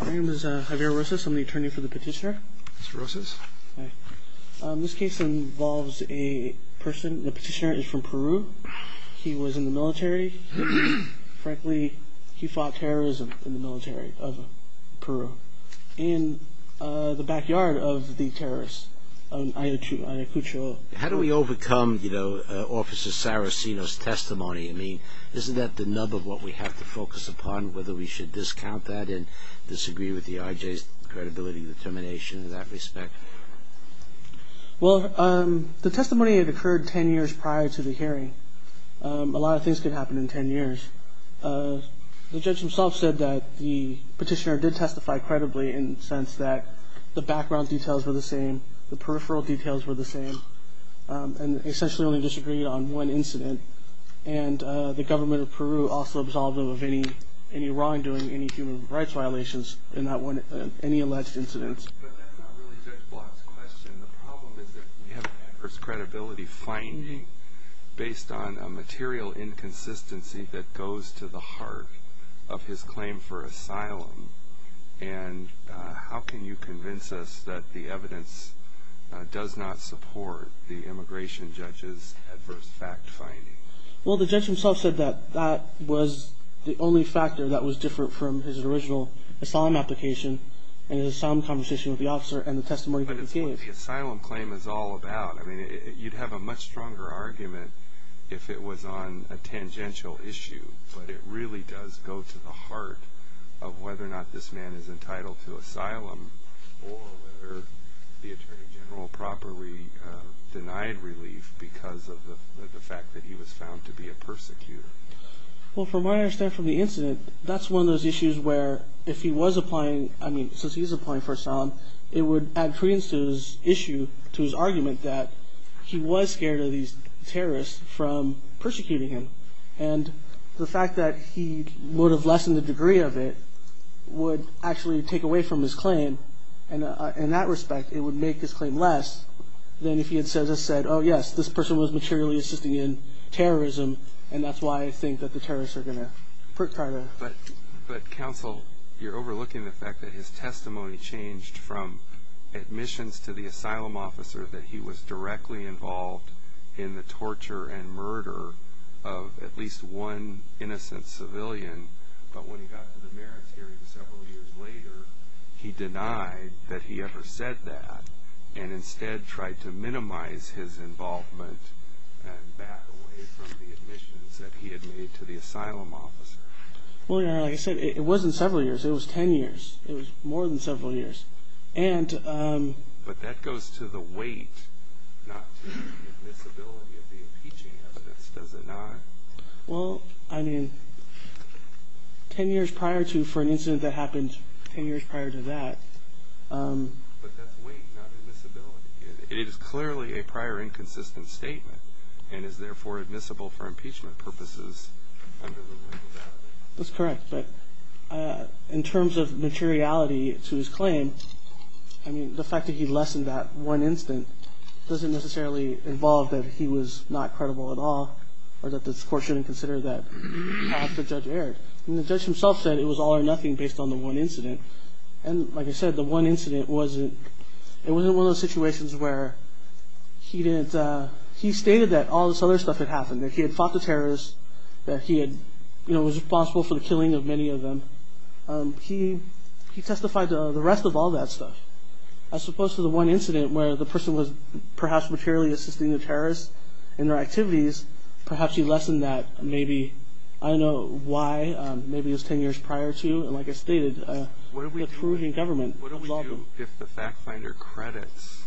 My name is Javier Rosas. I'm the attorney for the petitioner. Mr. Rosas. This case involves a person, the petitioner is from Peru. He was in the military. Frankly, he fought terrorism in the military of Peru in the backyard of the terrorists of Ayacucho. How do we overcome Officer Saraceno's testimony? I mean, isn't that the nub of what we have to focus upon, whether we should discount that and disagree with the IJ's credibility determination in that respect? Well, the testimony had occurred 10 years prior to the hearing. A lot of things could happen in 10 years. The judge himself said that the petitioner did testify credibly in the sense that the background details were the same, the peripheral details were the same, and essentially only disagreed on one incident. And the government of Peru also absolved him of any wrongdoing, any human rights violations in any alleged incidents. But that's not really Judge Block's question. The problem is that we have an adverse credibility finding based on a material inconsistency that goes to the heart of his claim for asylum. And how can you convince us that the evidence does not support the immigration judge's adverse fact finding? Well, the judge himself said that that was the only factor that was different from his original asylum application and his asylum conversation with the officer and the testimony that he gave. But it's what the asylum claim is all about. I mean, you'd have a much stronger argument if it was on a tangential issue. But it really does go to the heart of whether or not this man is entitled to asylum or whether the attorney general properly denied relief because of the fact that he was found to be a persecutor. Well, from my understanding from the incident, that's one of those issues where if he was applying, I mean, since he was applying for asylum, it would add credence to his issue, to his argument that he was scared of these terrorists from persecuting him. And the fact that he would have lessened the degree of it would actually take away from his claim. And in that respect, it would make his claim less than if he had just said, oh, yes, this person was materially assisting in terrorism. And that's why I think that the terrorists are going to put credit. But counsel, you're overlooking the fact that his testimony changed from admissions to the asylum officer that he was directly involved in the torture and murder of at least one innocent civilian. But when he got to the merits hearing several years later, he denied that he ever said that and instead tried to minimize his involvement and back away from the admissions that he had made to the asylum officer. Well, you know, like I said, it wasn't several years. It was ten years. It was more than several years. But that goes to the weight, not to the admissibility of the impeaching evidence, does it not? Well, I mean, ten years prior to for an incident that happened ten years prior to that. But that's weight, not admissibility. It is clearly a prior inconsistent statement and is therefore admissible for impeachment purposes. That's correct. But in terms of materiality to his claim, I mean, the fact that he lessened that one incident doesn't necessarily involve that he was not credible at all or that this court shouldn't consider that half the judge erred. I mean, the judge himself said it was all or nothing based on the one incident. And like I said, the one incident wasn't – it wasn't one of those situations where he didn't – he stated that all this other stuff had happened, that he had fought the terrorists, that he was responsible for the killing of many of them. He testified to the rest of all that stuff. As opposed to the one incident where the person was perhaps materially assisting the terrorists in their activities, perhaps he lessened that maybe. I don't know why. Maybe it was ten years prior to. And like I stated, the perusing government involved him. What do we do if the fact finder credits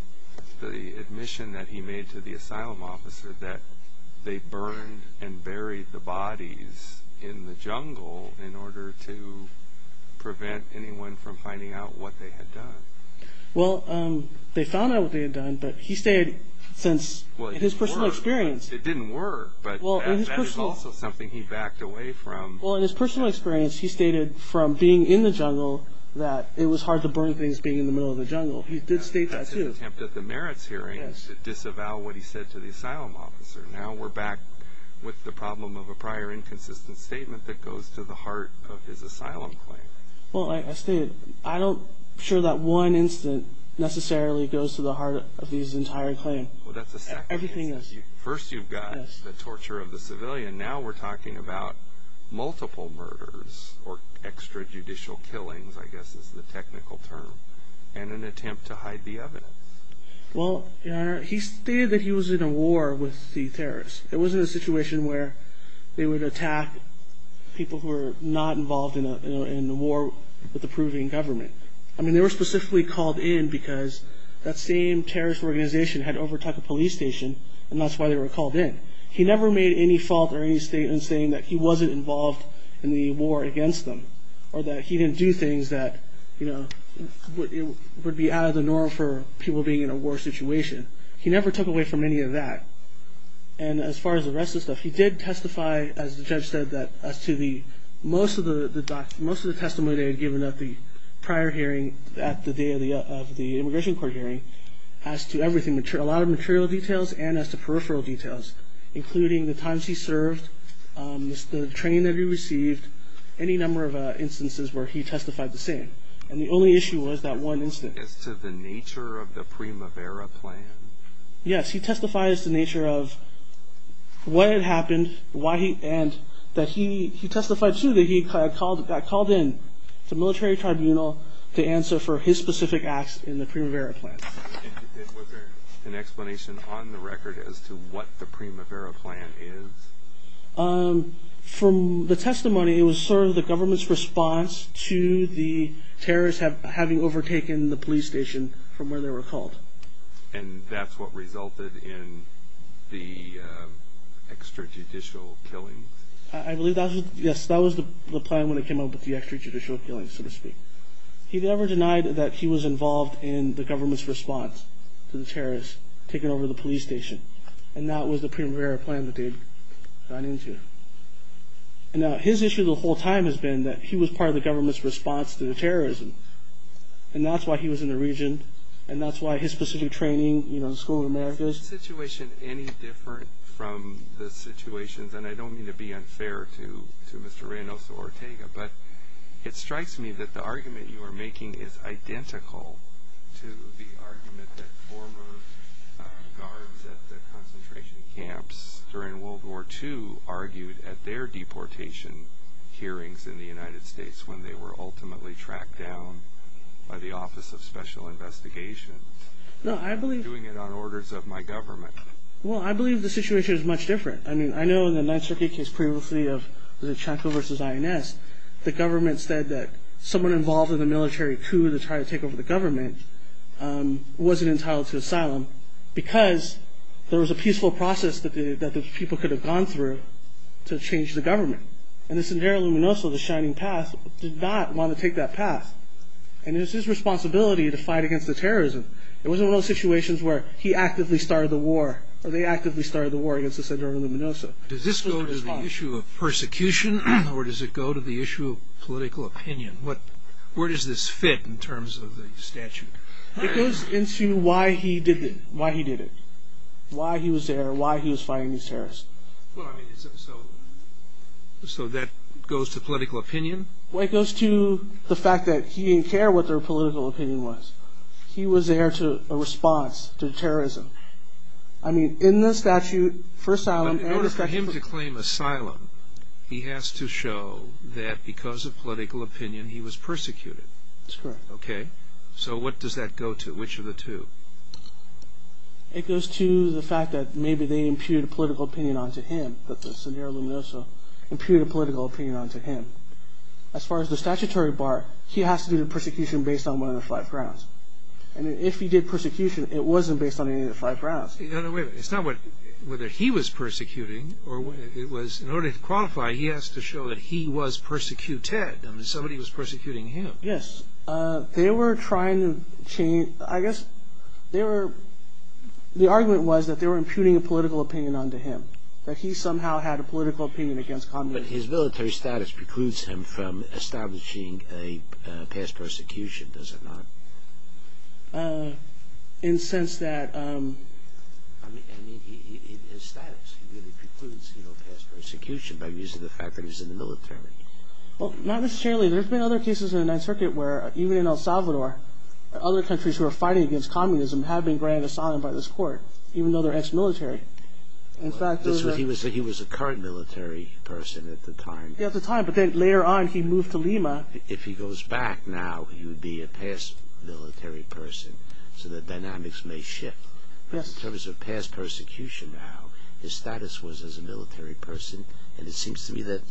the admission that he made to the asylum officer that they burned and buried the bodies in the jungle in order to prevent anyone from finding out what they had done? Well, they found out what they had done, but he stated since – Well, it didn't work, but that is also something he backed away from. Well, in his personal experience, he stated from being in the jungle that it was hard to burn things being in the middle of the jungle. Well, he did state that, too. That's an attempt at the merits hearing to disavow what he said to the asylum officer. Now we're back with the problem of a prior inconsistent statement that goes to the heart of his asylum claim. Well, like I stated, I'm not sure that one incident necessarily goes to the heart of his entire claim. Well, that's a second instance. Everything else. First you've got the torture of the civilian. Now we're talking about multiple murders, or extrajudicial killings, I guess is the technical term, and an attempt to hide the evidence. Well, Your Honor, he stated that he was in a war with the terrorists. It wasn't a situation where they would attack people who were not involved in a war with the Peruvian government. I mean, they were specifically called in because that same terrorist organization had overtaken a police station, and that's why they were called in. He never made any fault or any statement saying that he wasn't involved in the war against them, or that he didn't do things that would be out of the norm for people being in a war situation. He never took away from any of that. And as far as the rest of the stuff, he did testify, as the judge said, as to most of the testimony they had given at the prior hearing, at the day of the immigration court hearing, as to a lot of material details and as to peripheral details, including the times he served, the training that he received, any number of instances where he testified the same. And the only issue was that one instance. As to the nature of the Primavera Plan? Yes, he testified as to the nature of what had happened, and that he testified, too, that he got called in to the military tribunal to answer for his specific acts in the Primavera Plan. And was there an explanation on the record as to what the Primavera Plan is? From the testimony, it was sort of the government's response to the terrorists having overtaken the police station from where they were called. And that's what resulted in the extrajudicial killings? I believe that was the plan when it came up with the extrajudicial killings, so to speak. He never denied that he was involved in the government's response to the terrorists taking over the police station. And that was the Primavera Plan that they had gone into. Now, his issue the whole time has been that he was part of the government's response to the terrorism. And that's why he was in the region, and that's why his specific training, you know, the School of Americas. Is the situation any different from the situations, and I don't mean to be unfair to Mr. Reynoso Ortega, but it strikes me that the argument you are making is identical to the argument that former guards at the concentration camps during World War II argued at their deportation hearings in the United States when they were ultimately tracked down by the Office of Special Investigations. No, I believe... Doing it on orders of my government. Well, I believe the situation is much different. I mean, I know in the 9th Circuit case previously of the Chaco versus INS, the government said that someone involved in the military coup to try to take over the government wasn't entitled to asylum because there was a peaceful process that those people could have gone through to change the government. And the Sendero Luminoso, the Shining Path, did not want to take that path. And it was his responsibility to fight against the terrorism. It wasn't one of those situations where he actively started the war against the Sendero Luminoso. Does this go to the issue of persecution, or does it go to the issue of political opinion? Where does this fit in terms of the statute? It goes into why he did it, why he was there, why he was fighting these terrorists. So that goes to political opinion? Well, it goes to the fact that he didn't care what their political opinion was. He was there to respond to terrorism. I mean, in the statute for asylum... But in order for him to claim asylum, he has to show that because of political opinion he was persecuted. That's correct. Okay. So what does that go to? Which of the two? It goes to the fact that maybe they imputed political opinion onto him, that the Sendero Luminoso imputed political opinion onto him. As far as the statutory part, he has to do the persecution based on one of the five grounds. And if he did persecution, it wasn't based on any of the five grounds. No, no, wait a minute. It's not whether he was persecuting. In order to qualify, he has to show that he was persecuted. I mean, somebody was persecuting him. Yes. They were trying to change... I guess the argument was that they were imputing a political opinion onto him, that he somehow had a political opinion against communism. But his military status precludes him from establishing a past persecution, does it not? In the sense that... I mean, his status really precludes past persecution by the fact that he's in the military. Well, not necessarily. There have been other cases in the Ninth Circuit where, even in El Salvador, other countries who are fighting against communism have been granted asylum by this court, even though they're ex-military. He was a current military person at the time. At the time, but then later on he moved to Lima. If he goes back now, he would be a past military person, so the dynamics may shift. But in terms of past persecution now, his status was as a military person, and it seems to me that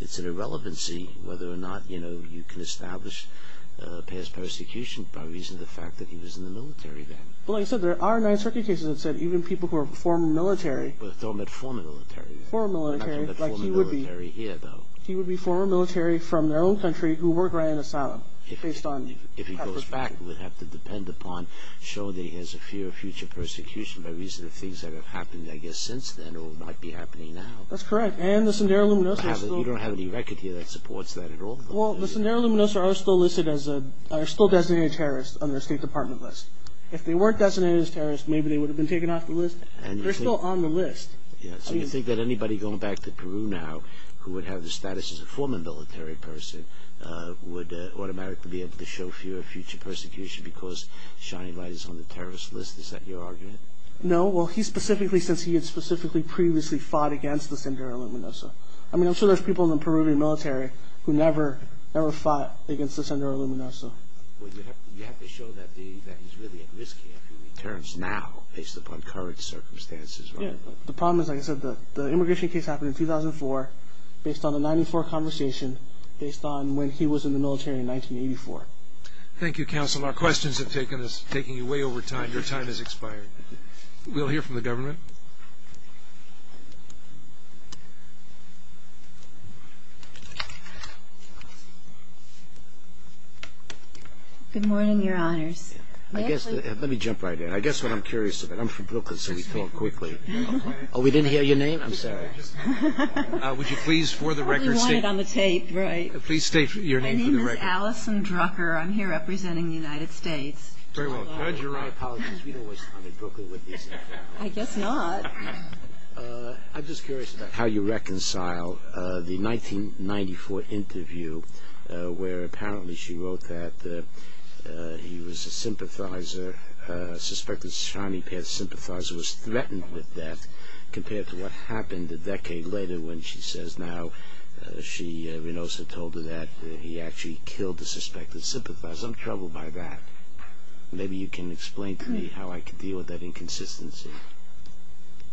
it's an irrelevancy whether or not you can establish past persecution by reason of the fact that he was in the military then. But like I said, there are Ninth Circuit cases that said even people who are former military... Former military. Former military, like he would be. He would be former military from their own country who were granted asylum based on past persecution. If he goes back, we'd have to depend upon showing that he has a fear of future persecution by reason of things that have happened, I guess, since then or might be happening now. That's correct. And the Sendero-Luminosos are still... You don't have any record here that supports that at all. Well, the Sendero-Luminosos are still designated terrorists on their State Department list. If they weren't designated as terrorists, maybe they would have been taken off the list. They're still on the list. So you think that anybody going back to Peru now who would have the status as a former military person would automatically be able to show fear of future persecution because Shining Light is on the terrorist list? Is that your argument? No. Well, he specifically, since he had specifically previously fought against the Sendero-Luminoso. I mean, I'm sure there's people in the Peruvian military who never fought against the Sendero-Luminoso. Well, you have to show that he's really at risk here if he returns now, based upon current circumstances, right? Yeah. The problem is, like I said, the immigration case happened in 2004, based on the 1994 conversation, based on when he was in the military in 1984. Thank you, counsel. Our questions have taken you way over time. Your time has expired. We'll hear from the government. Good morning, Your Honors. Let me jump right in. I guess what I'm curious about. I'm from Brooklyn, so we talk quickly. Oh, we didn't hear your name? I'm sorry. Would you please, for the record, state your name for the record. My name is Allison Drucker. I'm here representing the United States. Very well. Judge, you're right. Apologies. We don't waste time in Brooklyn with these things. I guess not. I'm just curious about how you reconcile the 1994 interview where apparently she wrote that he was a sympathizer, a suspected Shining Path sympathizer, was threatened with death compared to what happened a decade later when she says now she, Rinosa, told her that he actually killed the suspected sympathizer. I'm troubled by that. Maybe you can explain to me how I can deal with that inconsistency.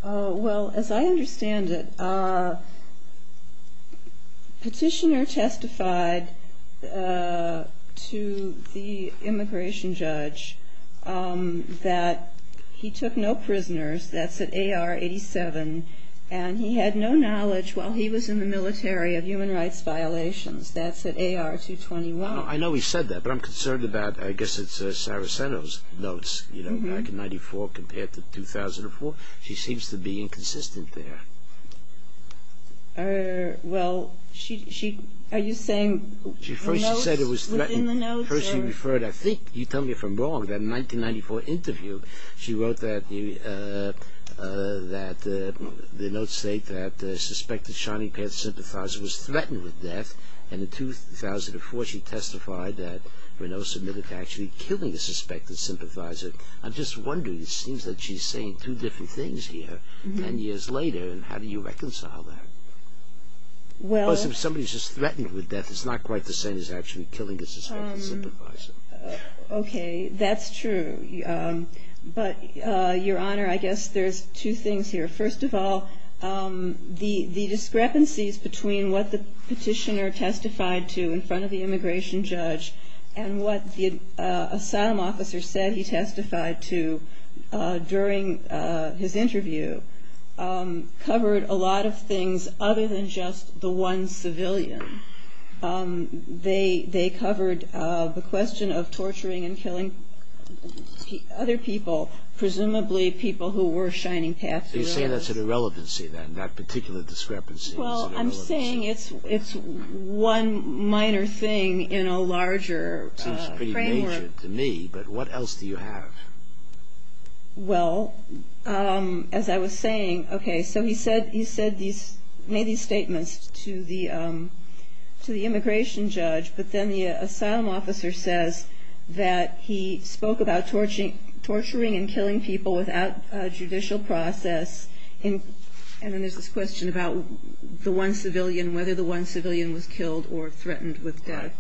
Well, as I understand it, Petitioner testified to the immigration judge that he took no prisoners. That's at AR-87. And he had no knowledge while he was in the military of human rights violations. That's at AR-221. I know he said that, but I'm concerned about, I guess it's Saraceno's notes, you know, back in 1994 compared to 2004. She seems to be inconsistent there. Well, are you saying the notes within the notes? First she said he was threatened. First she referred, I think, you tell me if I'm wrong, that 1994 interview, she wrote that the notes state that the suspected Shining Path sympathizer was threatened with death and in 2004 she testified that Rinosa admitted to actually killing the suspected sympathizer. I'm just wondering, it seems that she's saying two different things here ten years later, and how do you reconcile that? Because if somebody's just threatened with death, it's not quite the same as actually killing the suspected sympathizer. Okay, that's true. But, Your Honor, I guess there's two things here. First of all, the discrepancies between what the Petitioner testified to in front of the immigration judge and what the asylum officer said he testified to during his interview covered a lot of things other than just the one civilian. They covered the question of torturing and killing other people, presumably people who were Shining Path survivors. You're saying that's an irrelevancy then, that particular discrepancy is an irrelevancy. Well, I'm saying it's one minor thing in a larger framework. It seems pretty major to me, but what else do you have? Well, as I was saying, okay, so he made these statements to the immigration judge, but then the asylum officer says that he spoke about torturing and killing people without judicial process, and then there's this question about the one civilian, whether the one civilian was killed or threatened with death.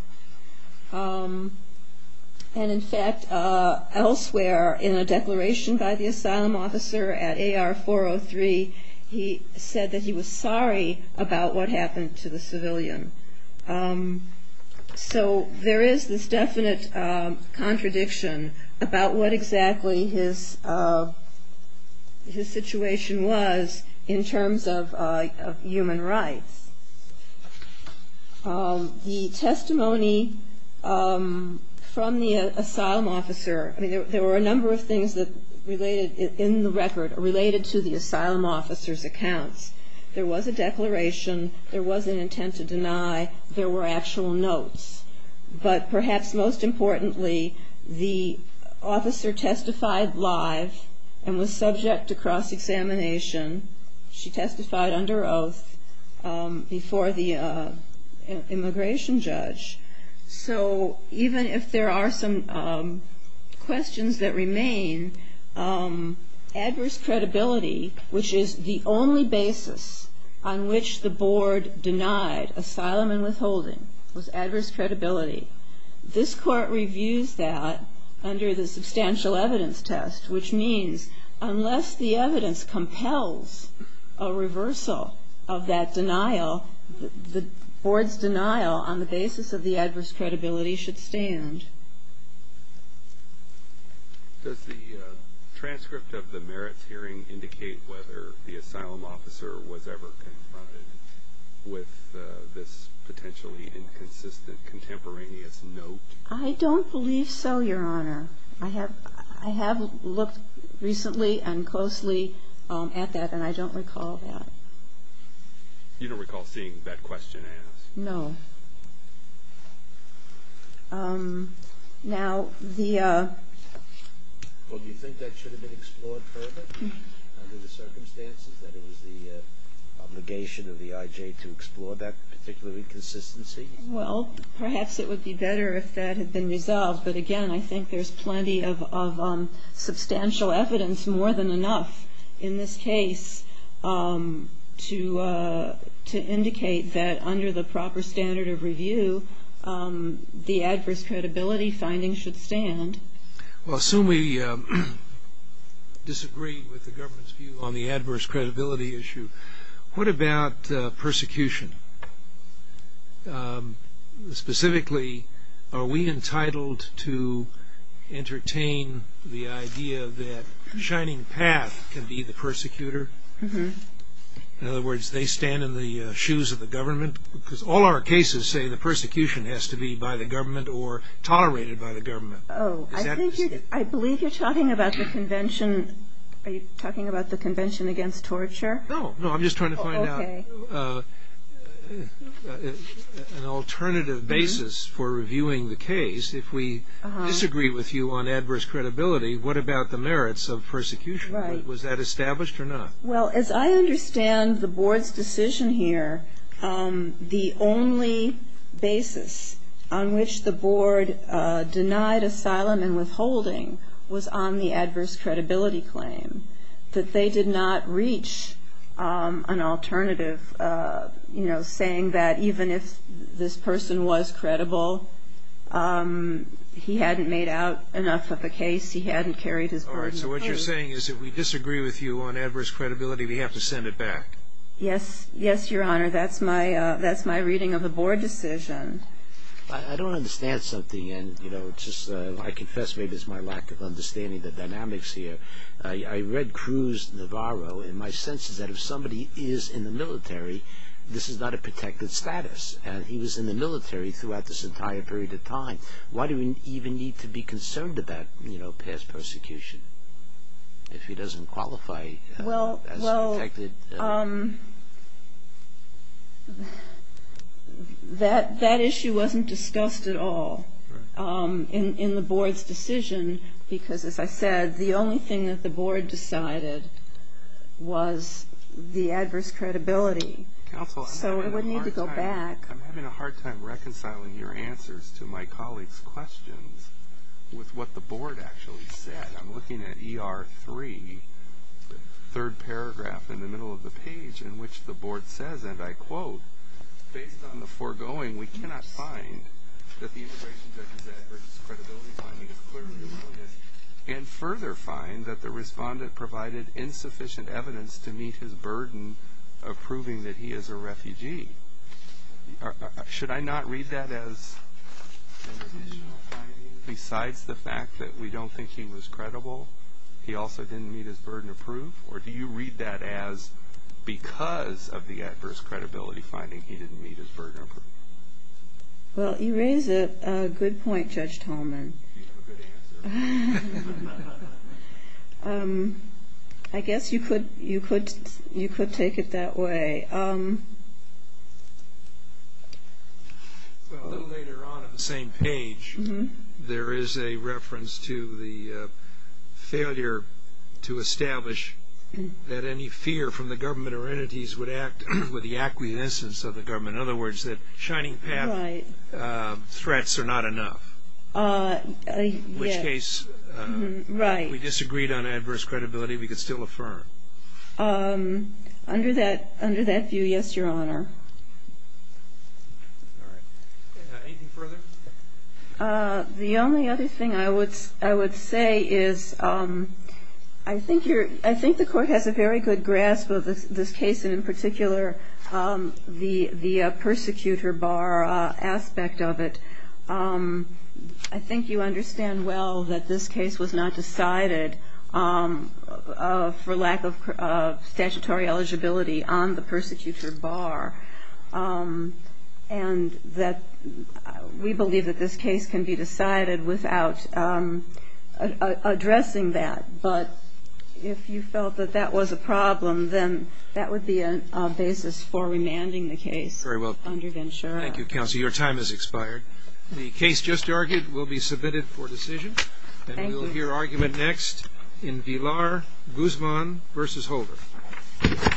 And, in fact, elsewhere in a declaration by the asylum officer at AR-403, he said that he was sorry about what happened to the civilian. So there is this definite contradiction about what exactly his situation was in terms of human rights. The testimony from the asylum officer, I mean, there were a number of things that related in the record, related to the asylum officer's accounts. There was a declaration, there was an intent to deny, there were actual notes. But perhaps most importantly, the officer testified live and was subject to cross-examination. She testified under oath before the immigration judge. So even if there are some questions that remain, adverse credibility, which is the only basis on which the board denied asylum and withholding, was adverse credibility. This Court reviews that under the substantial evidence test, which means unless the evidence compels a reversal of that denial, the board's denial on the basis of the adverse credibility should stand. Does the transcript of the merits hearing indicate whether the asylum officer was ever confronted with this potentially inconsistent contemporaneous note? I don't believe so, Your Honor. I have looked recently and closely at that, and I don't recall that. You don't recall seeing that question asked? No. Well, do you think that should have been explored further under the circumstances, that it was the obligation of the I.J. to explore that particular inconsistency? Well, perhaps it would be better if that had been resolved. But again, I think there's plenty of substantial evidence, more than enough in this case, to indicate that under the proper standard of review, the adverse credibility findings should stand. Well, assume we disagree with the government's view on the adverse credibility issue. What about persecution? Specifically, are we entitled to entertain the idea that Shining Path can be the persecutor? In other words, they stand in the shoes of the government? Because all our cases say the persecution has to be by the government or tolerated by the government. Oh, I believe you're talking about the Convention. Are you talking about the Convention Against Torture? No, no. I'm just trying to find out. Okay. An alternative basis for reviewing the case, if we disagree with you on adverse credibility, what about the merits of persecution? Right. Was that established or not? Well, as I understand the Board's decision here, the only basis on which the Board denied asylum and withholding was on the adverse credibility claim, that they did not reach an alternative, you know, saying that even if this person was credible, he hadn't made out enough of a case, he hadn't carried his burden of proof. All right. So what you're saying is if we disagree with you on adverse credibility, we have to send it back? Yes. Yes, Your Honor. That's my reading of the Board decision. I don't understand something, and, you know, it's just I confess maybe it's my lack of understanding the dynamics here. I read Cruz Navarro, and my sense is that if somebody is in the military, this is not a protected status. He was in the military throughout this entire period of time. Why do we even need to be concerned about, you know, past persecution if he doesn't qualify as protected? Well, that issue wasn't discussed at all in the Board's decision because, as I said, the only thing that the Board decided was the adverse credibility. Counsel, I'm having a hard time reconciling your answers to my colleagues' questions with what the Board actually said. I'm looking at ER 3, the third paragraph in the middle of the page in which the Board says, and I quote, Based on the foregoing, we cannot find that the integration judge's adverse credibility finding is clearly erroneous and further find that the respondent provided insufficient evidence to meet his burden of proving that he is a refugee. Should I not read that as besides the fact that we don't think he was credible, he also didn't meet his burden of proof? Or do you read that as because of the adverse credibility finding he didn't meet his burden of proof? Well, you raise a good point, Judge Tolman. You have a good answer. I guess you could take it that way. Well, a little later on on the same page, there is a reference to the failure to establish that any fear from the government or entities would act with the acquiescence of the government. In other words, that shining path threats are not enough. In which case, if we disagreed on adverse credibility, we could still affirm. Under that view, yes, Your Honor. All right. Anything further? The only other thing I would say is I think the court has a very good grasp of this case, and in particular, the persecutor bar aspect of it. I think you understand well that this case was not decided for lack of statutory eligibility on the persecutor bar, and that we believe that this case can be decided without addressing that. But if you felt that that was a problem, then that would be a basis for remanding the case. Very well. Thank you, Counsel. Your time has expired. The case just argued will be submitted for decision. Thank you. And we'll hear argument next in Villar, Guzman v. Holder.